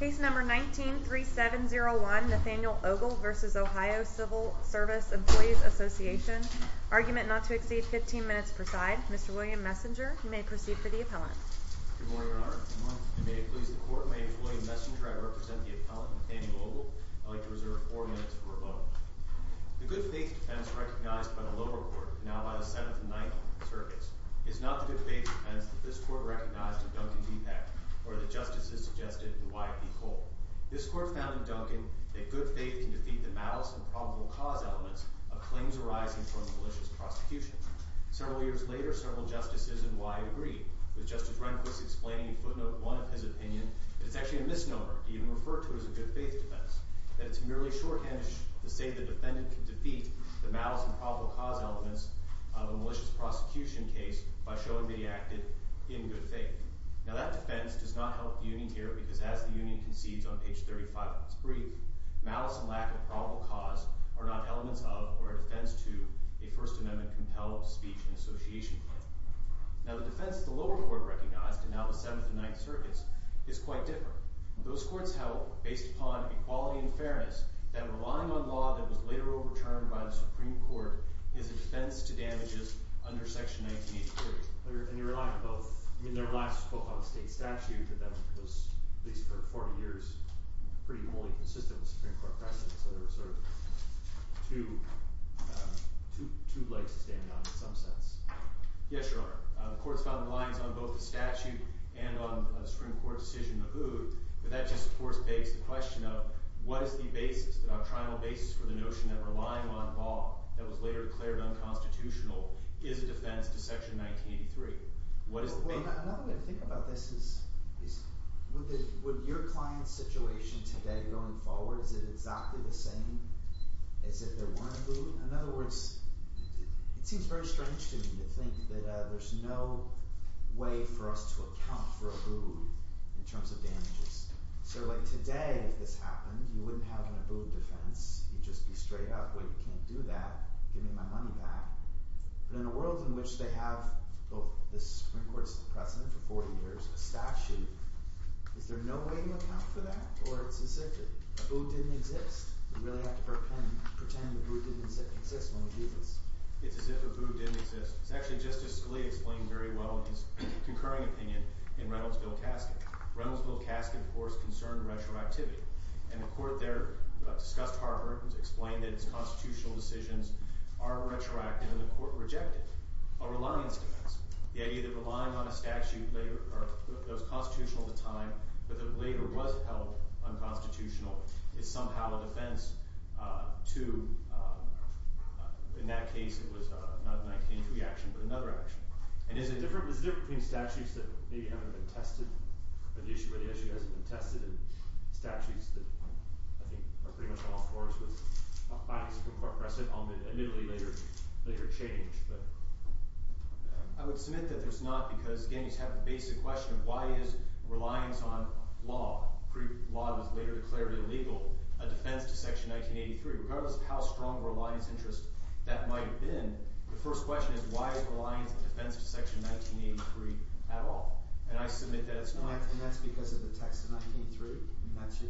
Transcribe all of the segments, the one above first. Case number 19-3701 Nathaniel Ogle v. Ohio Civil Serv Empl Assoc Argument not to exceed 15 minutes per side. Mr. William Messenger, you may proceed for the appellant. Good morning, Your Honor. Good morning. And may it please the Court, my name is William Messenger. I represent the appellant Nathaniel Ogle. I'd like to reserve 4 minutes for a vote. The good faith defense recognized by the lower court, now by the 7th and 9th circuits, is not the good faith defense that this Court recognized in Duncan v. Peck, or that justices suggested in Wyatt v. Cole. This Court found in Duncan that good faith can defeat the malice and probable cause elements of claims arising from a malicious prosecution. Several years later, several justices in Wyatt agreed, with Justice Rehnquist explaining in footnote 1 of his opinion that it's actually a misnomer to even refer to it as a good faith defense, that it's merely shorthanded to say the defendant can defeat the malice and probable cause elements of a malicious prosecution case by showing that he acted in good faith. Now that defense does not help the Union here, because as the Union concedes on page 35 of its brief, malice and lack of probable cause are not elements of, or a defense to, a First Amendment-compelled speech and association claim. Now the defense the lower court recognized, and now the 7th and 9th circuits, is quite different. Those courts held, based upon equality and fairness, that relying on law that was later overturned by the Supreme Court is a defense to damages under Section 1983. And you're relying on both? I mean, there were laws that spoke on state statute, but that was, at least for 40 years, pretty wholly consistent with Supreme Court practice, so there were sort of two legs to stand on in some sense. Yes, Your Honor. The courts found the lines on both the statute and on the Supreme Court decision to hood, but that just, of course, begs the question of, what is the basis, the doctrinal basis for the notion that relying on law that was later declared unconstitutional is a defense to Section 1983? Another way to think about this is, would your client's situation today, going forward, is it exactly the same as if there weren't a hood? In other words, it seems very strange to me to think that there's no way for us to account for a hood in terms of damages. So like today, if this happened, you wouldn't have an abode defense, you'd just be straight up, wait, you can't do that, give me my money back. But in a world in which they have both the Supreme Court's precedent for 40 years, a statute, is there no way to account for that? Or it's as if a hood didn't exist? We really have to pretend a hood didn't exist when it did exist. It's as if a hood didn't exist. It's actually just as Scalia explained very well in his concurring opinion in Reynoldsville-Caskin. Reynoldsville-Caskin, of course, concerned retroactivity. And the court there discussed Harvard and explained that its constitutional decisions are retroactive, and the court rejected a reliance defense. The idea that relying on a statute that was constitutional at the time but that later was held unconstitutional is somehow a defense to, in that case, it was not a 1903 action but another action. And is it different between statutes that maybe haven't been tested, or the issue where the issue hasn't been tested, and statutes that I think are pretty much on all fours with, by the Supreme Court precedent, admittedly later changed? I would submit that there's not because, again, you just have the basic question of why is reliance on law, pre-law that was later declared illegal, a defense to Section 1983? Regardless of how strong a reliance interest that might have been, the first question is why is reliance a defense to Section 1983 at all? And I submit that it's not. And that's because of the text of 1983?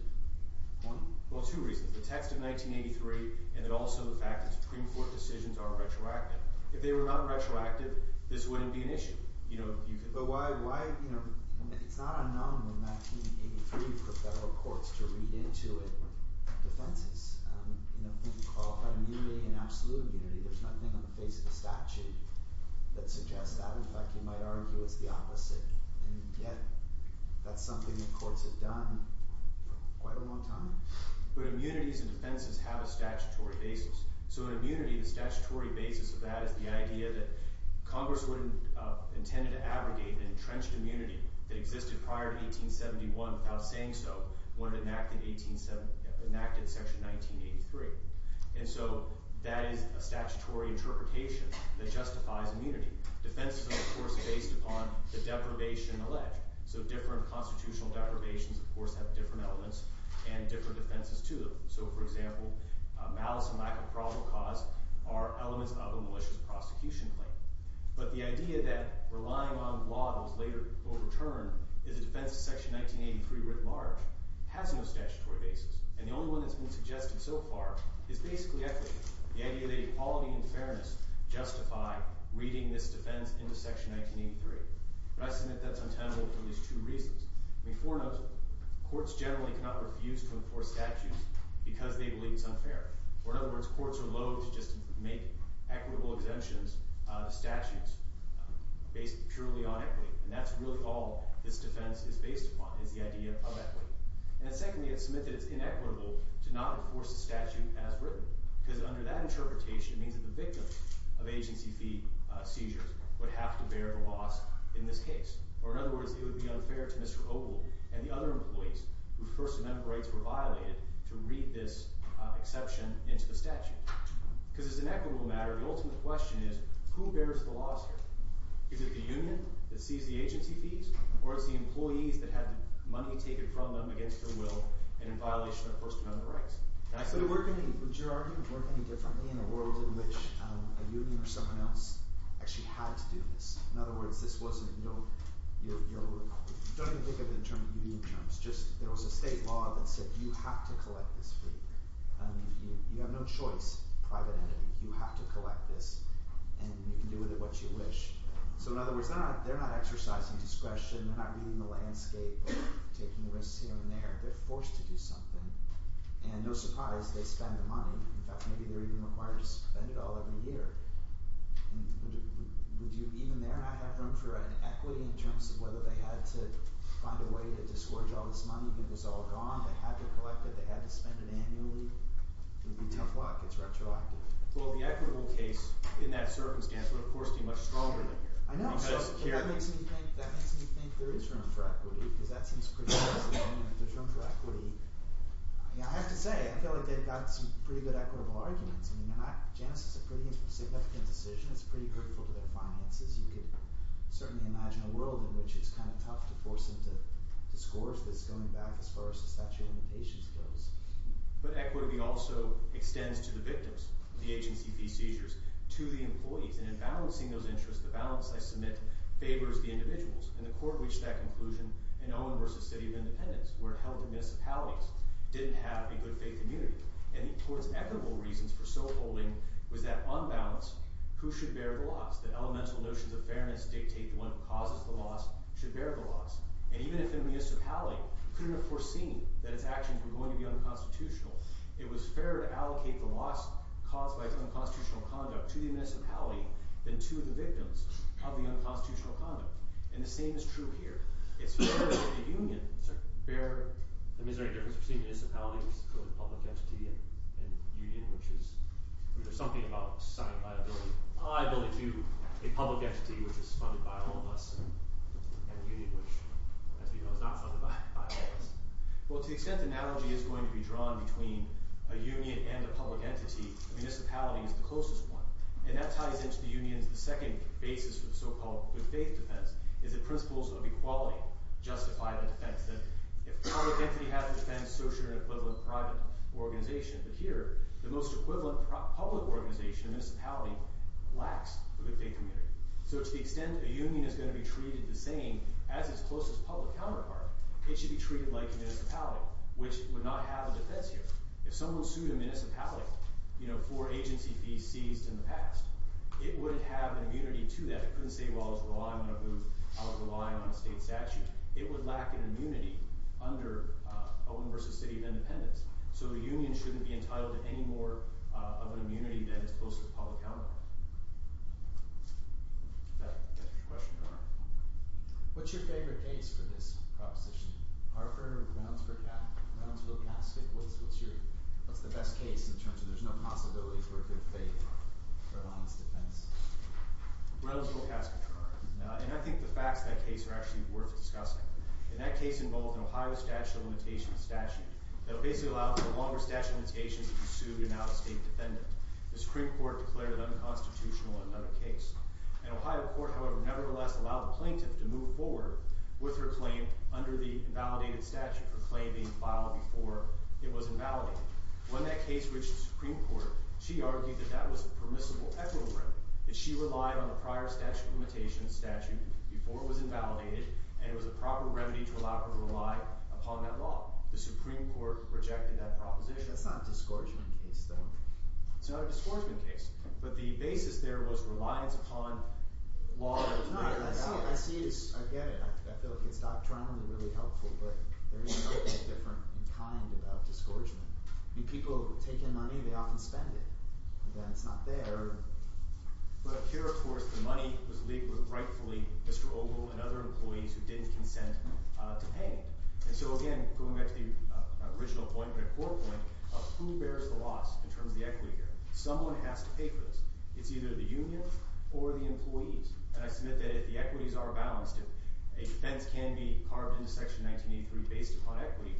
Well, two reasons. The text of 1983 and also the fact that Supreme Court decisions are retroactive. If they were not retroactive, this wouldn't be an issue. But why – it's not unknown in 1983 for federal courts to read into it defenses. If you qualify immunity and absolute immunity, there's nothing on the face of the statute that suggests that. In fact, you might argue it's the opposite. And yet, that's something that courts have done for quite a long time. But immunities and defenses have a statutory basis. So in immunity, the statutory basis of that is the idea that Congress wouldn't intend to abrogate an entrenched immunity that existed prior to 1871 without saying so when it enacted Section 1983. And so that is a statutory interpretation that justifies immunity. Defenses are, of course, based upon the deprivation alleged. So different constitutional deprivations, of course, have different elements and different defenses to them. So, for example, malice and lack of probable cause are elements of a malicious prosecution claim. But the idea that relying on law that was later overturned is a defense of Section 1983 writ large has no statutory basis. And the only one that's been suggested so far is basically equity, the idea that equality and fairness justify reading this defense into Section 1983. But I submit that's untenable for at least two reasons. I mean, foremost, courts generally cannot refuse to enforce statutes because they believe it's unfair. Or in other words, courts are loathe to just make equitable exemptions to statutes based purely on equity. And that's really all this defense is based upon is the idea of equity. And secondly, I submit that it's inequitable to not enforce the statute as written because under that interpretation, it means that the victim of agency fee seizures would have to bear the loss in this case. Or in other words, it would be unfair to Mr. Ogle and the other employees whose First Amendment rights were violated to read this exception into the statute. Because as an equitable matter, the ultimate question is, who bears the loss here? Is it the union that seized the agency fees, or is it the employees that had money taken from them against their will and in violation of First Amendment rights? Would your argument work any differently in a world in which a union or someone else actually had to do this? In other words, this wasn't – don't even think of it in union terms. Just – there was a state law that said you have to collect this fee. You have no choice, private entity. You have to collect this, and you can do with it what you wish. So in other words, they're not exercising discretion. They're not reading the landscape or taking the risks here and there. They're forced to do something. And no surprise, they spend the money. In fact, maybe they're even required to spend it all every year. Would you even there not have room for an equity in terms of whether they had to find a way to disgorge all this money when it was all gone? They had to collect it. They had to spend it annually. It would be tough luck. It's retroactive. Well, the equitable case in that circumstance would, of course, be much stronger than here. I know. So that makes me think there is room for equity because that seems pretty convincing. And if there's room for equity – I have to say, I feel like they've got some pretty good equitable arguments. Janice, it's a pretty significant decision. It's pretty hurtful to their finances. You could certainly imagine a world in which it's kind of tough to force them to disgorge this going back as far as the statute of limitations goes. But equity also extends to the victims of the HNCP seizures, to the employees. And in balancing those interests, the balance I submit favors the individuals. And the court reached that conclusion in Owen v. City of Independence where it held that municipalities didn't have a good faith community. And the court's equitable reasons for so holding was that, on balance, who should bear the loss? That elemental notions of fairness dictate the one who causes the loss should bear the loss. And even if a municipality couldn't have foreseen that its actions were going to be unconstitutional, it was fairer to allocate the loss caused by its own constitutional conduct to the municipality than to the victims of the unconstitutional conduct. And the same is true here. It's fairer for the union to bear. I mean, is there any difference between a municipality, which is a public entity, and a union, which is... I mean, there's something about societal viability. I believe, too, a public entity, which is funded by all of us, and a union, which, as we know, is not funded by all of us. Well, to the extent the analogy is going to be drawn between a union and a public entity, a municipality is the closest one. And that ties into the union's second basis for the so-called good-faith defense, is that principles of equality justify the defense. That if a public entity has a defense, so should an equivalent private organization. But here, the most equivalent public organization, a municipality, lacks a good-faith community. So to the extent a union is going to be treated the same as its closest public counterpart, it should be treated like a municipality, which would not have a defense here. If someone sued a municipality for agency fees seized in the past, it would have immunity to that. It couldn't say, well, I was relying on a booth, I was relying on a state statute. It would lack an immunity under a one-versus-city of independence. So the union shouldn't be entitled to any more of an immunity than its closest public counterpart. Does that answer your question? What's your favorite case for this proposition? Our firm, Brownsville-Caskett. What's the best case in terms of there's no possibility for a good-faith defense? Brownsville-Caskett. And I think the facts of that case are actually worth discussing. And that case involved an Ohio statute of limitations statute that basically allowed for a longer statute of limitations if you sued an out-of-state defendant. The Supreme Court declared it unconstitutional in another case. And Ohio court, however, nevertheless allowed the plaintiff to move forward with her claim under the invalidated statute, her claim being filed before it was invalidated. When that case reached the Supreme Court, she argued that that was a permissible equilibrium. That she relied on the prior statute of limitations statute before it was invalidated and it was a proper remedy to allow her to rely upon that law. The Supreme Court rejected that proposition. That's not a disgorgement case, though. It's not a disgorgement case. But the basis there was reliance upon law that was made invalid. I see it as – I get it. I feel like it's doctrinally really helpful, but there is something different in kind about disgorgement. I mean, people take in money. They often spend it. Again, it's not there. But here, of course, the money was leaked with rightfully Mr. Ogle and other employees who didn't consent to pay. And so, again, going back to the original point, the core point of who bears the loss in terms of the equity here. Someone has to pay for this. It's either the union or the employees. And I submit that if the equities are balanced, if a defense can be carved into Section 1983 based upon equity,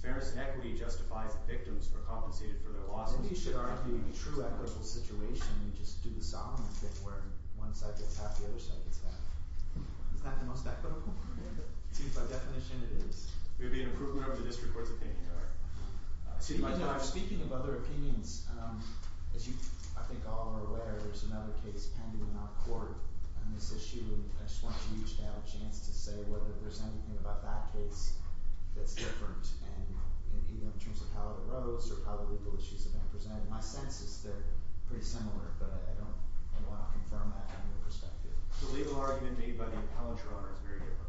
fairness and equity justifies that victims are compensated for their losses. Maybe you should argue a true equitable situation and just do the Solomon thing where one side gets half, the other side gets half. Isn't that the most equitable? It seems by definition it is. It would be an improvement over the district court's opinion. Speaking of other opinions, as I think you all are aware, there's another case pending in our court. On this issue, I just want you to have a chance to say whether there's anything about that case that's different. And even in terms of how it arose or how the legal issues have been presented. My sense is they're pretty similar, but I don't want to confirm that from your perspective. The legal argument made by the appellant, Your Honor, is very different.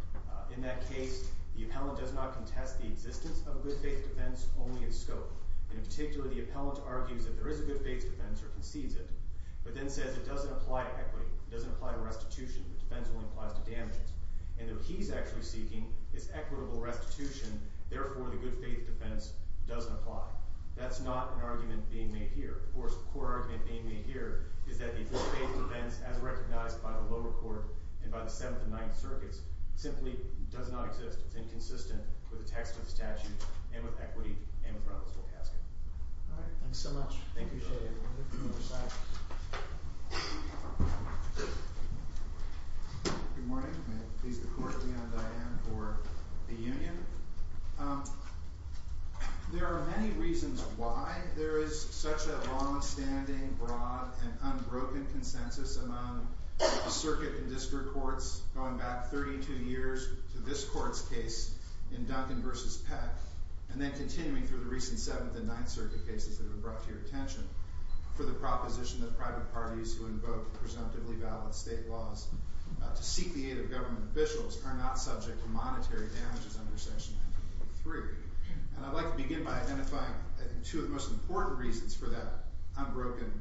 In that case, the appellant does not contest the existence of good-faith defense only in scope. In particular, the appellant argues that there is a good-faith defense or concedes it, but then says it doesn't apply to equity. It doesn't apply to restitution. The defense only applies to damages. And that he's actually seeking this equitable restitution. Therefore, the good-faith defense doesn't apply. That's not an argument being made here. Of course, the core argument being made here is that the good-faith defense, as recognized by the lower court and by the Seventh and Ninth Circuits, simply does not exist. It's inconsistent with the text of the statute and with equity and with Robertsville Casket. All right. Thanks so much. I appreciate it. Good morning. May it please the Court, Leigh Ann and Diane for the union. There are many reasons why there is such a long-standing, broad, and unbroken consensus among the circuit and district courts, going back 32 years to this court's case in Duncan v. Peck, and then continuing through the recent Seventh and Ninth Circuit cases that have brought to your attention, for the proposition that private parties who invoke presumptively valid state laws to seek the aid of government officials are not subject to monetary damages under Section 1983. And I'd like to begin by identifying two of the most important reasons for that unbroken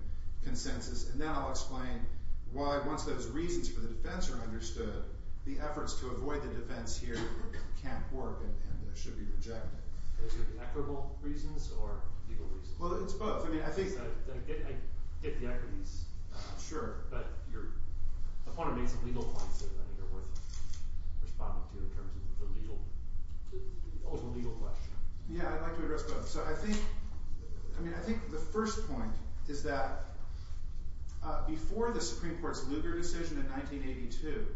consensus. And then I'll explain why, once those reasons for the defense are understood, the efforts to avoid the defense here can't work and should be rejected. Is it equitable reasons or legal reasons? Well, it's both. I get the equities. Sure. But I want to make some legal points that I think are worth responding to in terms of the legal question. Yeah, I'd like to address both. So I think the first point is that before the Supreme Court's Lugar decision in 1982,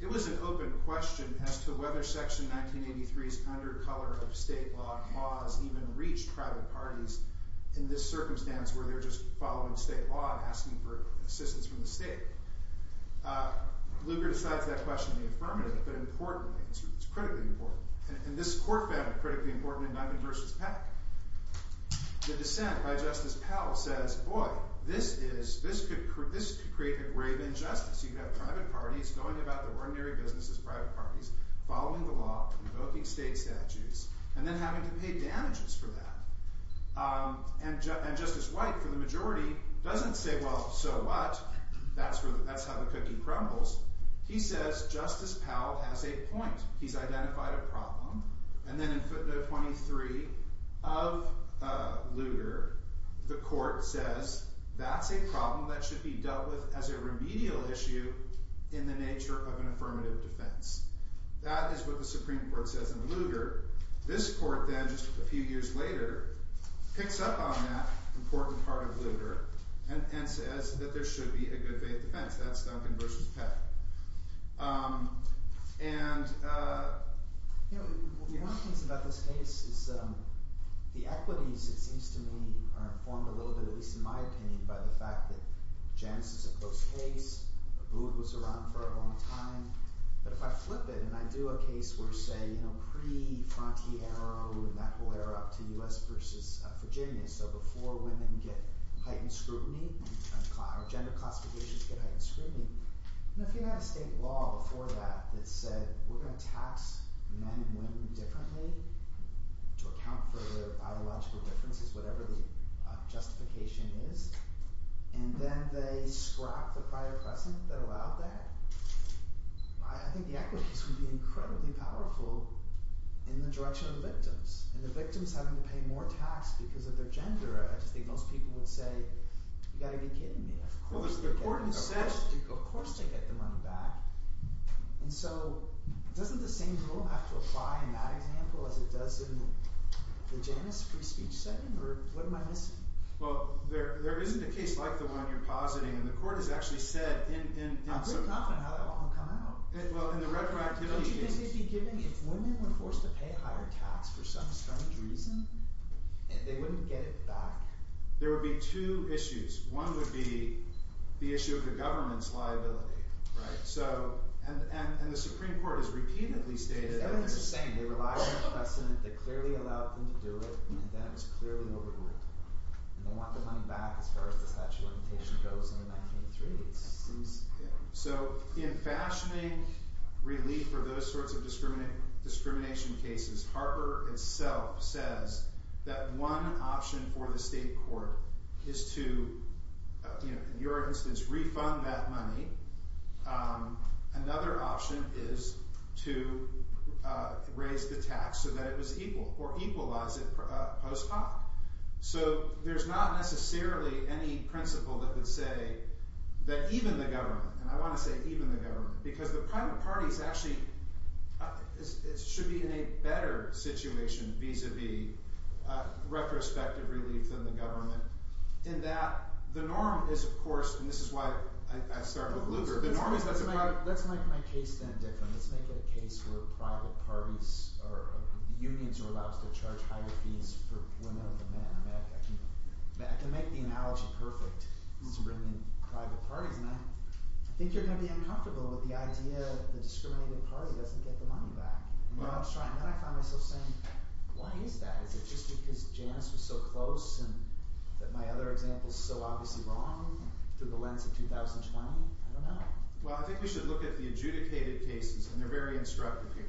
it was an open question as to whether Section 1983's undercolor state law laws even reached private parties in this circumstance where they're just following state law and asking for assistance from the state. Lugar decides that question in the affirmative, but importantly, it's critically important. And this court found it critically important in Duncan v. Peck. The dissent by Justice Powell says, boy, this could create a grave injustice. You could have private parties going about their ordinary business as private parties, following the law, invoking state statutes, and then having to pay damages for that. And Justice White, for the majority, doesn't say, well, so what? That's how the cookie crumbles. He says Justice Powell has a point. He's identified a problem. And then in footnote 23 of Lugar, the court says that's a problem that should be dealt with as a remedial issue in the nature of an affirmative defense. That is what the Supreme Court says in Lugar. This court then, just a few years later, picks up on that important part of Lugar and says that there should be a good faith defense. That's Duncan v. Peck. And, you know, one of the things about this case is the equities, it seems to me, are informed a little bit, at least in my opinion, by the fact that Janice is a close case. Abood was around for a long time. But if I flip it and I do a case where, say, you know, pre-Frontiero and that whole era up to U.S. v. Virginia, so before women get heightened scrutiny, or gender classifications get heightened scrutiny, if you had a state law before that that said we're going to tax men and women differently to account for their biological differences, whatever the justification is, and then they scrapped the prior precedent that allowed that, I think the equities would be incredibly powerful in the direction of the victims. And the victims having to pay more tax because of their gender, I just think most people would say, you've got to be kidding me. Of course they get the money back. And so doesn't the same rule have to apply in that example as it does in the Janice free speech setting? Or what am I missing? Well, there isn't a case like the one you're positing, and the court has actually said... I'm pretty confident how that will all come out. Well, in the retroactivity case... Don't you think they'd be giving, if women were forced to pay higher tax for some strange reason, they wouldn't get it back? There would be two issues. One would be the issue of the government's liability. And the Supreme Court has repeatedly stated... Everything's the same. They relied on the precedent that clearly allowed them to do it, and then it was clearly overruled. And they want the money back as far as the statute of limitations goes in 1983. So in fashioning relief for those sorts of discrimination cases, Harper itself says that one option for the state court is to, in your instance, refund that money. Another option is to raise the tax so that it was equal, or equalize it post hoc. So there's not necessarily any principle that would say that even the government... And I want to say even the government, because the private parties actually should be in a better situation vis-a-vis retrospective relief than the government, in that the norm is, of course, and this is why I started with Lugar... Let's make my case then different. Let's make it a case where private parties or unions are allowed to charge higher fees for women than men. I can make the analogy perfect. It's a brilliant private party, isn't it? I think you're going to be uncomfortable with the idea that the discriminated party doesn't get the money back. I found myself saying, why is that? Is it just because Janice was so close, and that my other example is so obviously wrong through the lens of 2020? I don't know. Well, I think we should look at the adjudicated cases, and they're very instructive here.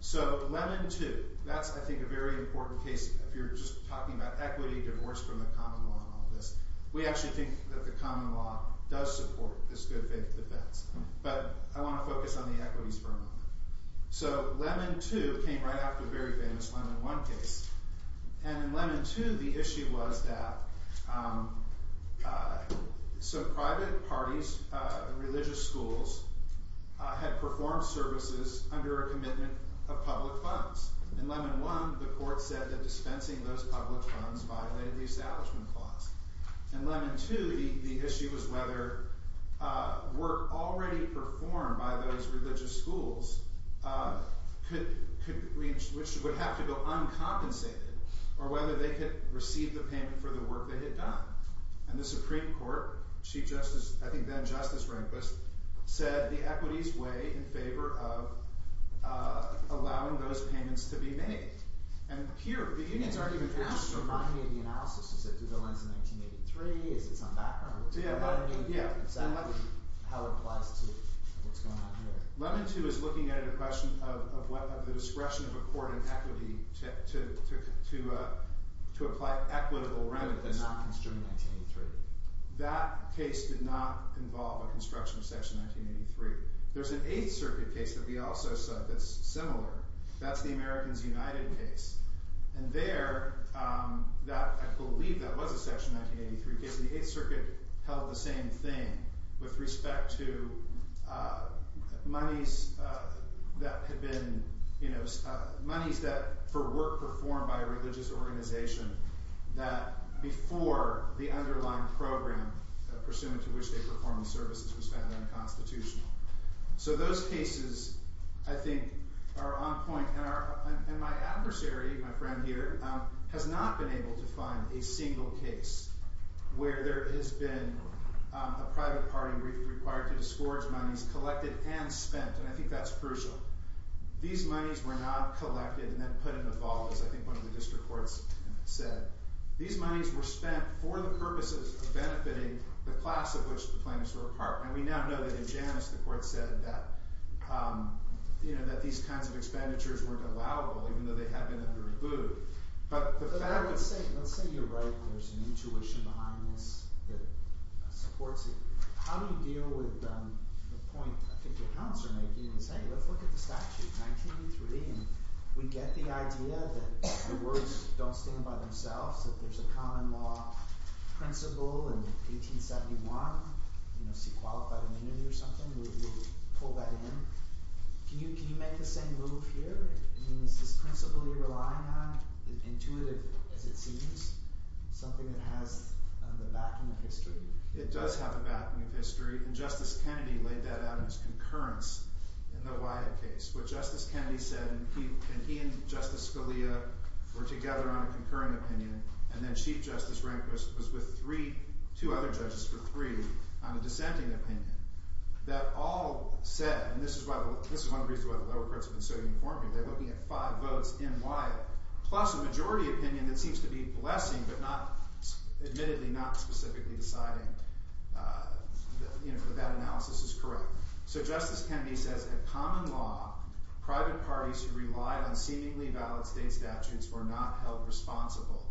So Lemon 2, that's, I think, a very important case if you're just talking about equity, divorce from the common law, and all this. We actually think that the common law does support this good faith defense. But I want to focus on the equities for a moment. So Lemon 2 came right after the very famous Lemon 1 case. And in Lemon 2, the issue was that some private parties, religious schools, had performed services under a commitment of public funds. In Lemon 1, the court said that dispensing those public funds violated the Establishment Clause. In Lemon 2, the issue was whether work already performed by those religious schools, which would have to go uncompensated, or whether they could receive the payment for the work they had done. And the Supreme Court, Chief Justice, I think then Justice Rehnquist, said the equities weigh in favor of allowing those payments to be made. And here, the unions argue with each other. Can you just remind me of the analysis? Is it through the lens of 1983? Is it some background? Is that how it applies to what's going on here? Lemon 2 is looking at a question of the discretion of a court in equity to apply equitable remedies. The non-construction of 1983. That case did not involve a construction of Section 1983. There's an Eighth Circuit case that we also saw that's similar. That's the Americans United case. And there, I believe that was a Section 1983 case. The Eighth Circuit held the same thing with respect to monies that for work performed by a religious organization that before the underlying program pursuant to which they performed services was found unconstitutional. So those cases, I think, are on point. And my adversary, my friend here, has not been able to find a single case where there has been a private party required to discourage monies collected and spent, and I think that's crucial. These monies were not collected and then put in a vault, as I think one of the district courts said. These monies were spent for the purposes of benefiting the class of which the claimants were a part. And we now know that in Janus the court said that these kinds of expenditures weren't allowable even though they had been under a boot. But the fact that... Let's say you're right. There's an intuition behind this that supports it. How do you deal with the point I think your accounts are making is, hey, let's look at the statute, 1983, and we get the idea that the words don't stand by themselves, that there's a common law principle in 1871, see qualified immunity or something. We'll pull that in. Can you make the same move here? I mean, is this principle you're relying on as intuitive as it seems, something that has the backing of history? It does have the backing of history, and Justice Kennedy laid that out in his concurrence in the Wyatt case. What Justice Kennedy said, and he and Justice Scalia were together on a concurrent opinion, and then Chief Justice Rehnquist was with three, two other judges for three on a dissenting opinion, that all said, and this is one of the reasons why the lower courts have been so uniform here, they're looking at five votes in Wyatt, plus a majority opinion that seems to be blessing but admittedly not specifically deciding that that analysis is correct. So Justice Kennedy says, At common law, private parties who relied on seemingly valid state statutes were not held responsible.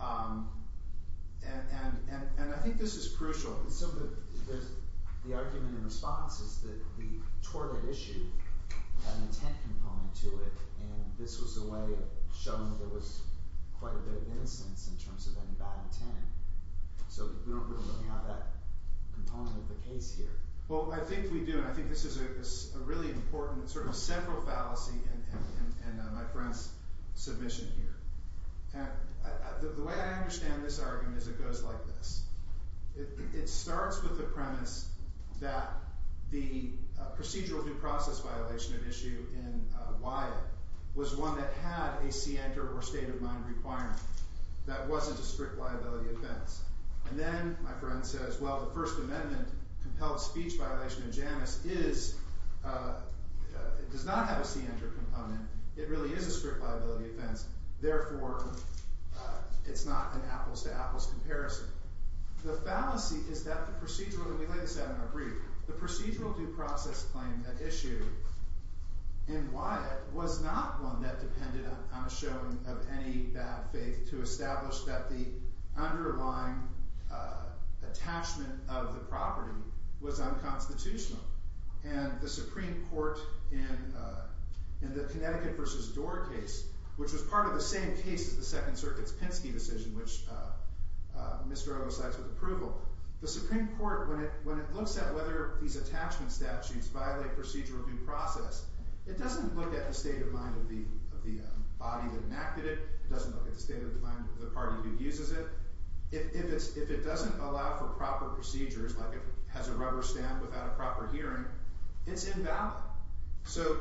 And I think this is crucial. The argument in response is that the tort at issue had an intent component to it, and this was a way of showing that there was quite a bit of innocence in terms of any bad intent. So we don't really have that component of the case here. Well, I think we do, and I think this is a really important sort of central fallacy in my friend's submission here. The way I understand this argument is it goes like this. It starts with the premise that the procedural due process violation at issue in Wyatt was one that had a scienter or state of mind requirement. That wasn't a strict liability offense. And then my friend says, Well, the First Amendment compelled speech violation in Janus is, does not have a scienter component. It really is a strict liability offense. Therefore, it's not an apples-to-apples comparison. The fallacy is that the procedural, and we lay this out in a brief, the procedural due process claim at issue in Wyatt was not one that depended on a showing of any bad faith to establish that the underlying attachment of the property was unconstitutional. And the Supreme Court in the Connecticut v. Dorr case, which was part of the same case as the Second Circuit's Pinsky decision, which Mr. O cites with approval, the Supreme Court, when it looks at whether these attachment statutes violate procedural due process, it doesn't look at the state of mind of the body that enacted it. It doesn't look at the state of mind of the party who uses it. If it doesn't allow for proper procedures, like if it has a rubber stamp without a proper hearing, it's invalid. So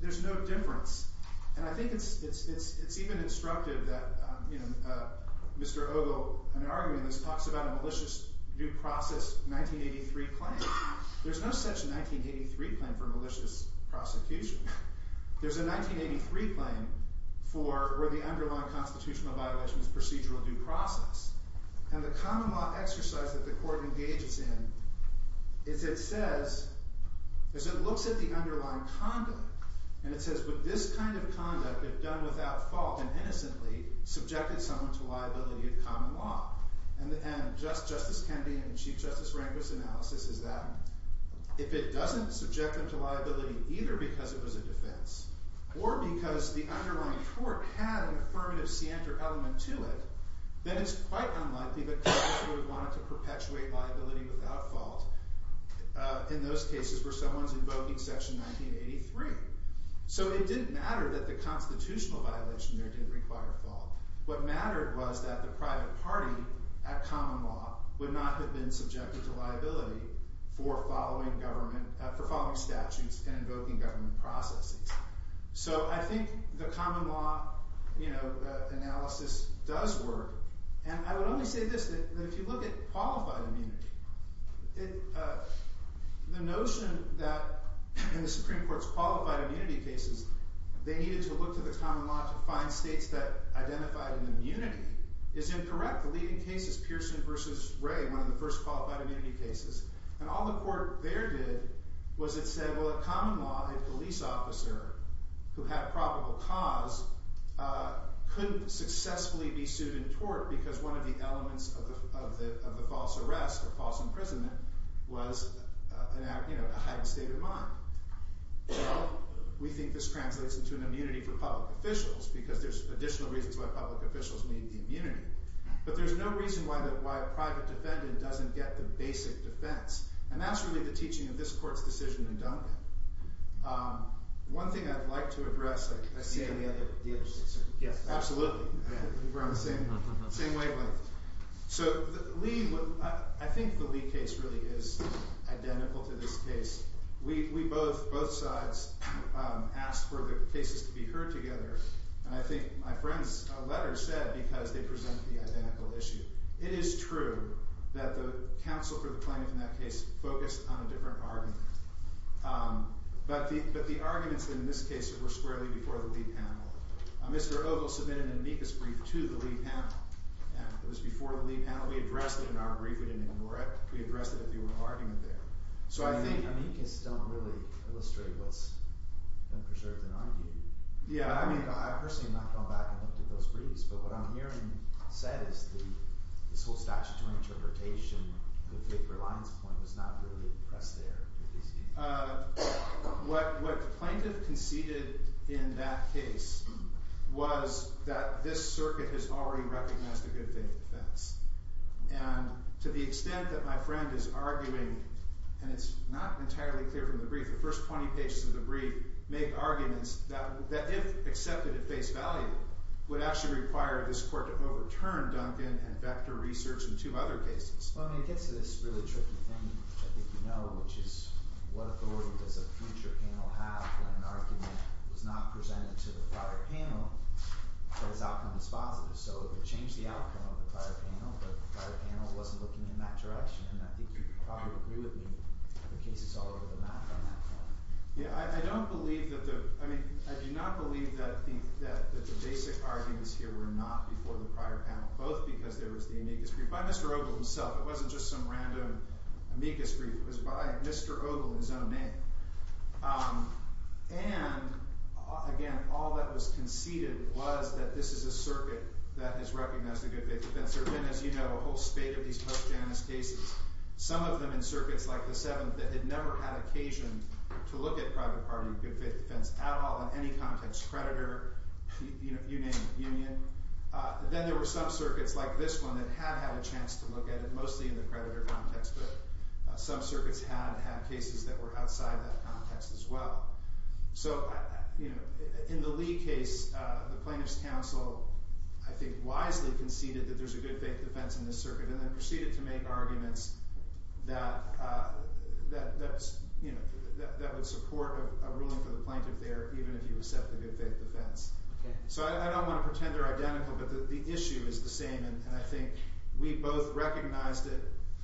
there's no difference. And I think it's even instructive that Mr. Ogle, in an argument, talks about a malicious due process 1983 claim. There's no such 1983 claim for malicious prosecution. There's a 1983 claim for where the underlying constitutional violation is procedural due process. And the common law exercise that the court engages in is it says, as it looks at the underlying conduct, and it says, would this kind of conduct, if done without fault and innocently, subjected someone to liability of common law? And Justice Kendi and Chief Justice Rehnquist's analysis is that if it doesn't subject them to liability either because it was a defense or because the underlying court had an affirmative scienter element to it, then it's quite unlikely that Congress would want to perpetuate liability without fault in those cases where someone's invoking section 1983. So it didn't matter that the constitutional violation there didn't require fault. What mattered was that the private party at common law would not have been subjected to liability for following statutes and invoking government processes. So I think the common law analysis does work. And I would only say this, that if you look at qualified immunity, the notion that in the Supreme Court's qualified immunity cases they needed to look to the common law to find states that identified an immunity is incorrect. The leading case is Pearson v. Ray, one of the first qualified immunity cases. And all the court there did was it said, well, a common law, a police officer who had probable cause couldn't successfully be sued and tort because one of the elements of the false arrest or false imprisonment was a heightened state of mind. Well, we think this translates into an immunity for public officials But there's no reason why a private defendant doesn't get the basic defense. And that's really the teaching of this court's decision in Duncan. One thing I'd like to address, I see the other. Absolutely. We're on the same wavelength. So I think the Lee case really is identical to this case. We both, both sides, asked for the cases to be heard together. And I think my friend's letter said because they present the identical issue. It is true that the counsel for the plaintiff in that case focused on a different argument. But the arguments in this case were squarely before the Lee panel. Mr. Ogle submitted an amicus brief to the Lee panel. It was before the Lee panel. We addressed it in our brief. We didn't ignore it. We addressed it at the oral argument there. So I think amicus don't really illustrate what's been preserved in our view. Yeah, I mean, I personally have not gone back and looked at those briefs. But what I'm hearing said is this whole statutory interpretation, good faith reliance point was not really pressed there. What the plaintiff conceded in that case was that this circuit has already recognized a good faith defense. And to the extent that my friend is arguing, and it's not entirely clear from the brief, the first 20 pages of the brief make arguments that if accepted at face value would actually require this court to overturn Duncan and Vector Research and two other cases. Well, I mean, it gets to this really tricky thing, which I think you know, which is what authority does a future panel have when an argument was not presented to the prior panel but its outcome is positive. So it would change the outcome of the prior panel, but the prior panel wasn't looking in that direction. And I think you'd probably agree with me that the case is all over the map on that point. Yeah, I don't believe that the – I mean, I do not believe that the basic arguments here were not before the prior panel, both because there was the amicus brief by Mr. Ogle himself. It wasn't just some random amicus brief. It was by Mr. Ogle in his own name. And again, all that was conceded was that this is a circuit that has recognized a good faith defense. There have been, as you know, a whole spate of these post-Janus cases, some of them in circuits like the Seventh that had never had occasion to look at private party good faith defense at all in any context, creditor, you name it, union. Then there were some circuits like this one that had had a chance to look at it, mostly in the creditor context, but some circuits had had cases that were outside that context as well. So in the Lee case, the plaintiff's counsel, I think, wisely conceded that there's a good faith defense in this circuit and then proceeded to make arguments that would support a ruling for the plaintiff there, even if you accept the good faith defense. So I don't want to pretend they're identical, but the issue is the same, and I think we both recognized it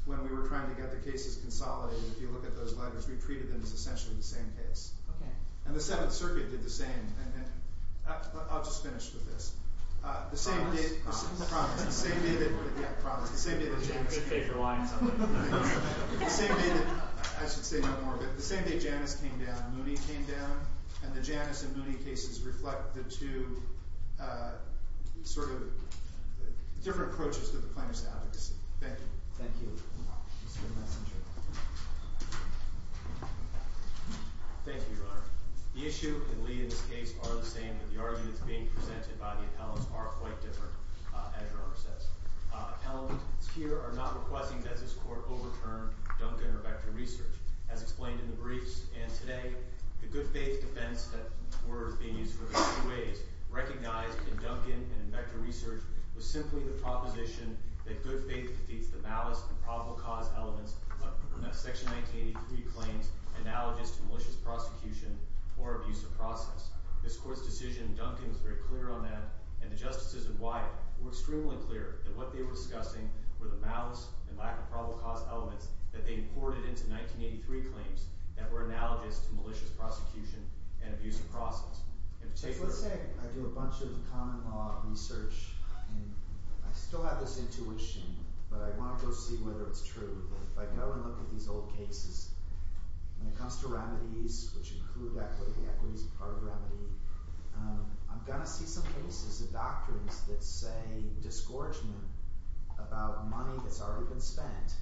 when we were trying to get the cases consolidated. If you look at those letters, we treated them as essentially the same case. And the Seventh Circuit did the same. I'll just finish with this. The same day Janus came down, Mooney came down, and the Janus and Mooney cases reflect the two different approaches to the plaintiff's advocacy. Thank you. Thank you, Mr. Messenger. Thank you, Your Honor. The issue and Lee in this case are the same, but the arguments being presented by the appellants are quite different, as Your Honor says. Appellants here are not requesting that this court overturn Duncan or Vector Research. As explained in the briefs and today, the good faith defense that were being used for the two ways, recognized in Duncan and in Vector Research, was simply the proposition that good faith defeats the malice and probable cause elements of Section 1983 claims analogous to malicious prosecution or abuse of process. This court's decision in Duncan was very clear on that, and the justices in Wyatt were extremely clear that what they were discussing were the malice and lack of probable cause elements that they imported into 1983 claims that were analogous to malicious prosecution and abuse of process. Let's say I do a bunch of common law research, and I still have this intuition, but I want to go see whether it's true. If I go and look at these old cases, when it comes to remedies, which include equity, equity is part of remedy, I'm going to see some cases of doctrines that say disgorgement about money that's already been spent.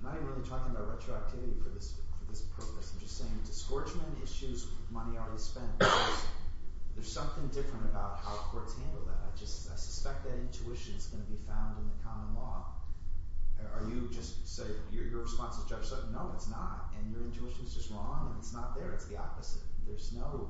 I'm not even really talking about retroactivity for this purpose. I'm just saying disgorgement issues money already spent. There's something different about how courts handle that. I suspect that intuition is going to be found in the common law. Are you just saying – your response to Judge Sutton? No, it's not, and your intuition is just wrong, and it's not there. It's the opposite. There's no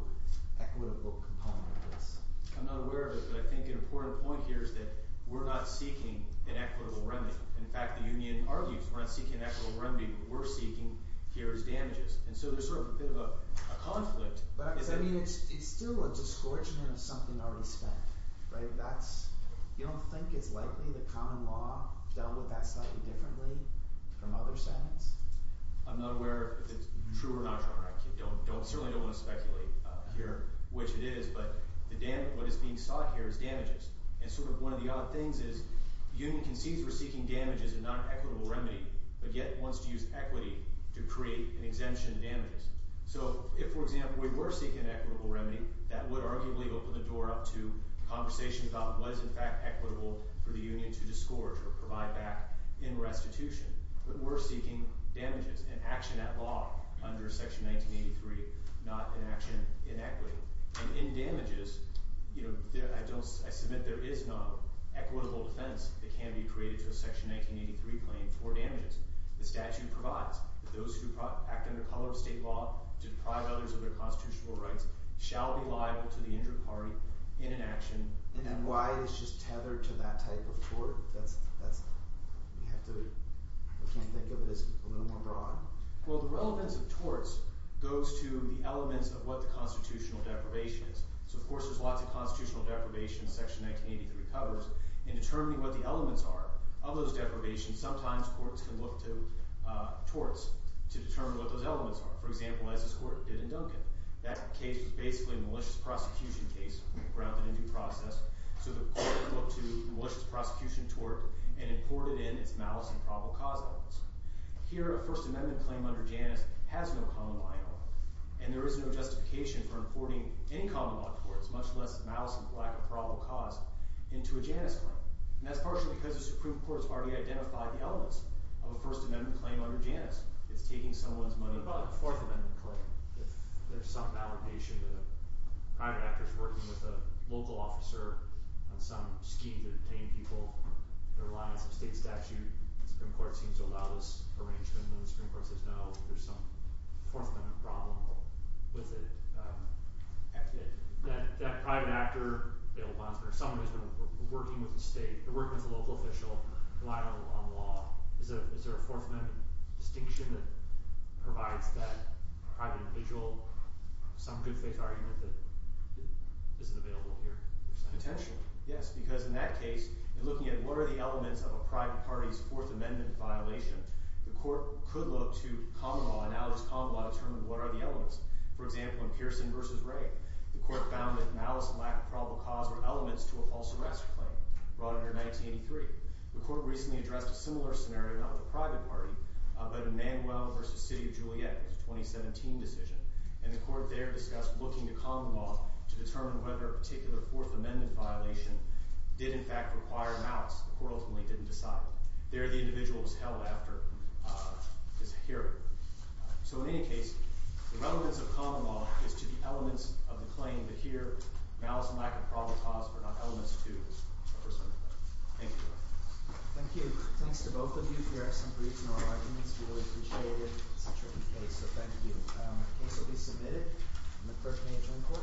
equitable component of this. I'm not aware of it, but I think an important point here is that we're not seeking an equitable remedy. In fact, the union argues we're not seeking an equitable remedy. What we're seeking here is damages, and so there's sort of a bit of a conflict. But I mean it's still a disgorgement of something already spent. You don't think it's likely the common law dealt with that slightly differently from other settings? I'm not aware if it's true or not true. I certainly don't want to speculate here which it is, but what is being sought here is damages. And sort of one of the odd things is the union concedes we're seeking damages and not an equitable remedy, but yet wants to use equity to create an exemption to damages. So if, for example, we were seeking an equitable remedy, that would arguably open the door up to a conversation about what is in fact equitable for the union to disgorge or provide back in restitution. But we're seeking damages and action at law under Section 1983, not an action in equity. And in damages, I submit there is no equitable defense that can be created to a Section 1983 claim for damages. The statute provides that those who act under color of state law to deprive others of their constitutional rights shall be liable to the injured party in an action. And why is it just tethered to that type of tort? We have to – we can't think of it as a little more broad? Well, the relevance of torts goes to the elements of what the constitutional deprivation is. So, of course, there's lots of constitutional deprivation in Section 1983 covers. In determining what the elements are of those deprivations, sometimes courts can look to torts to determine what those elements are. For example, as this court did in Duncan. That case was basically a malicious prosecution case grounded in due process. So the court looked to a malicious prosecution tort and imported in its malice and probable cause elements. Here, a First Amendment claim under Janus has no common line at all. And there is no justification for importing in common law courts, much less malice and lack of probable cause, into a Janus claim. And that's partially because the Supreme Court has already identified the elements of a First Amendment claim under Janus. It's taking someone's money. What about a Fourth Amendment claim? If there's some validation that a private actor is working with a local officer on some scheme to detain people, the reliance of state statute, the Supreme Court seems to allow this arrangement. And the Supreme Court says, no, there's some Fourth Amendment problem with it. That private actor, bail bondsman, or someone who's been working with the state, working with a local official, relying on law. Is there a Fourth Amendment distinction that provides that private individual some good faith argument that isn't available here? Potentially, yes. Because in that case, in looking at what are the elements of a private party's Fourth Amendment violation, the court could look to common law, analogous common law, to determine what are the elements. For example, in Pearson v. Ray, the court found that malice and lack of probable cause were elements to a false arrest claim brought under 1983. The court recently addressed a similar scenario, not with a private party, but in Manuel v. City of Juliet, a 2017 decision. And the court there discussed looking to common law to determine whether a particular Fourth Amendment violation did, in fact, require malice. The court ultimately didn't decide. There, the individual was held after his hearing. So, in any case, the relevance of common law is to the elements of the claim. But here, malice and lack of probable cause were not elements to the first amendment. Thank you. Thank you. Thanks to both of you here. I appreciate it. It's a tricky case, so thank you. The case will be submitted in the first page of the report.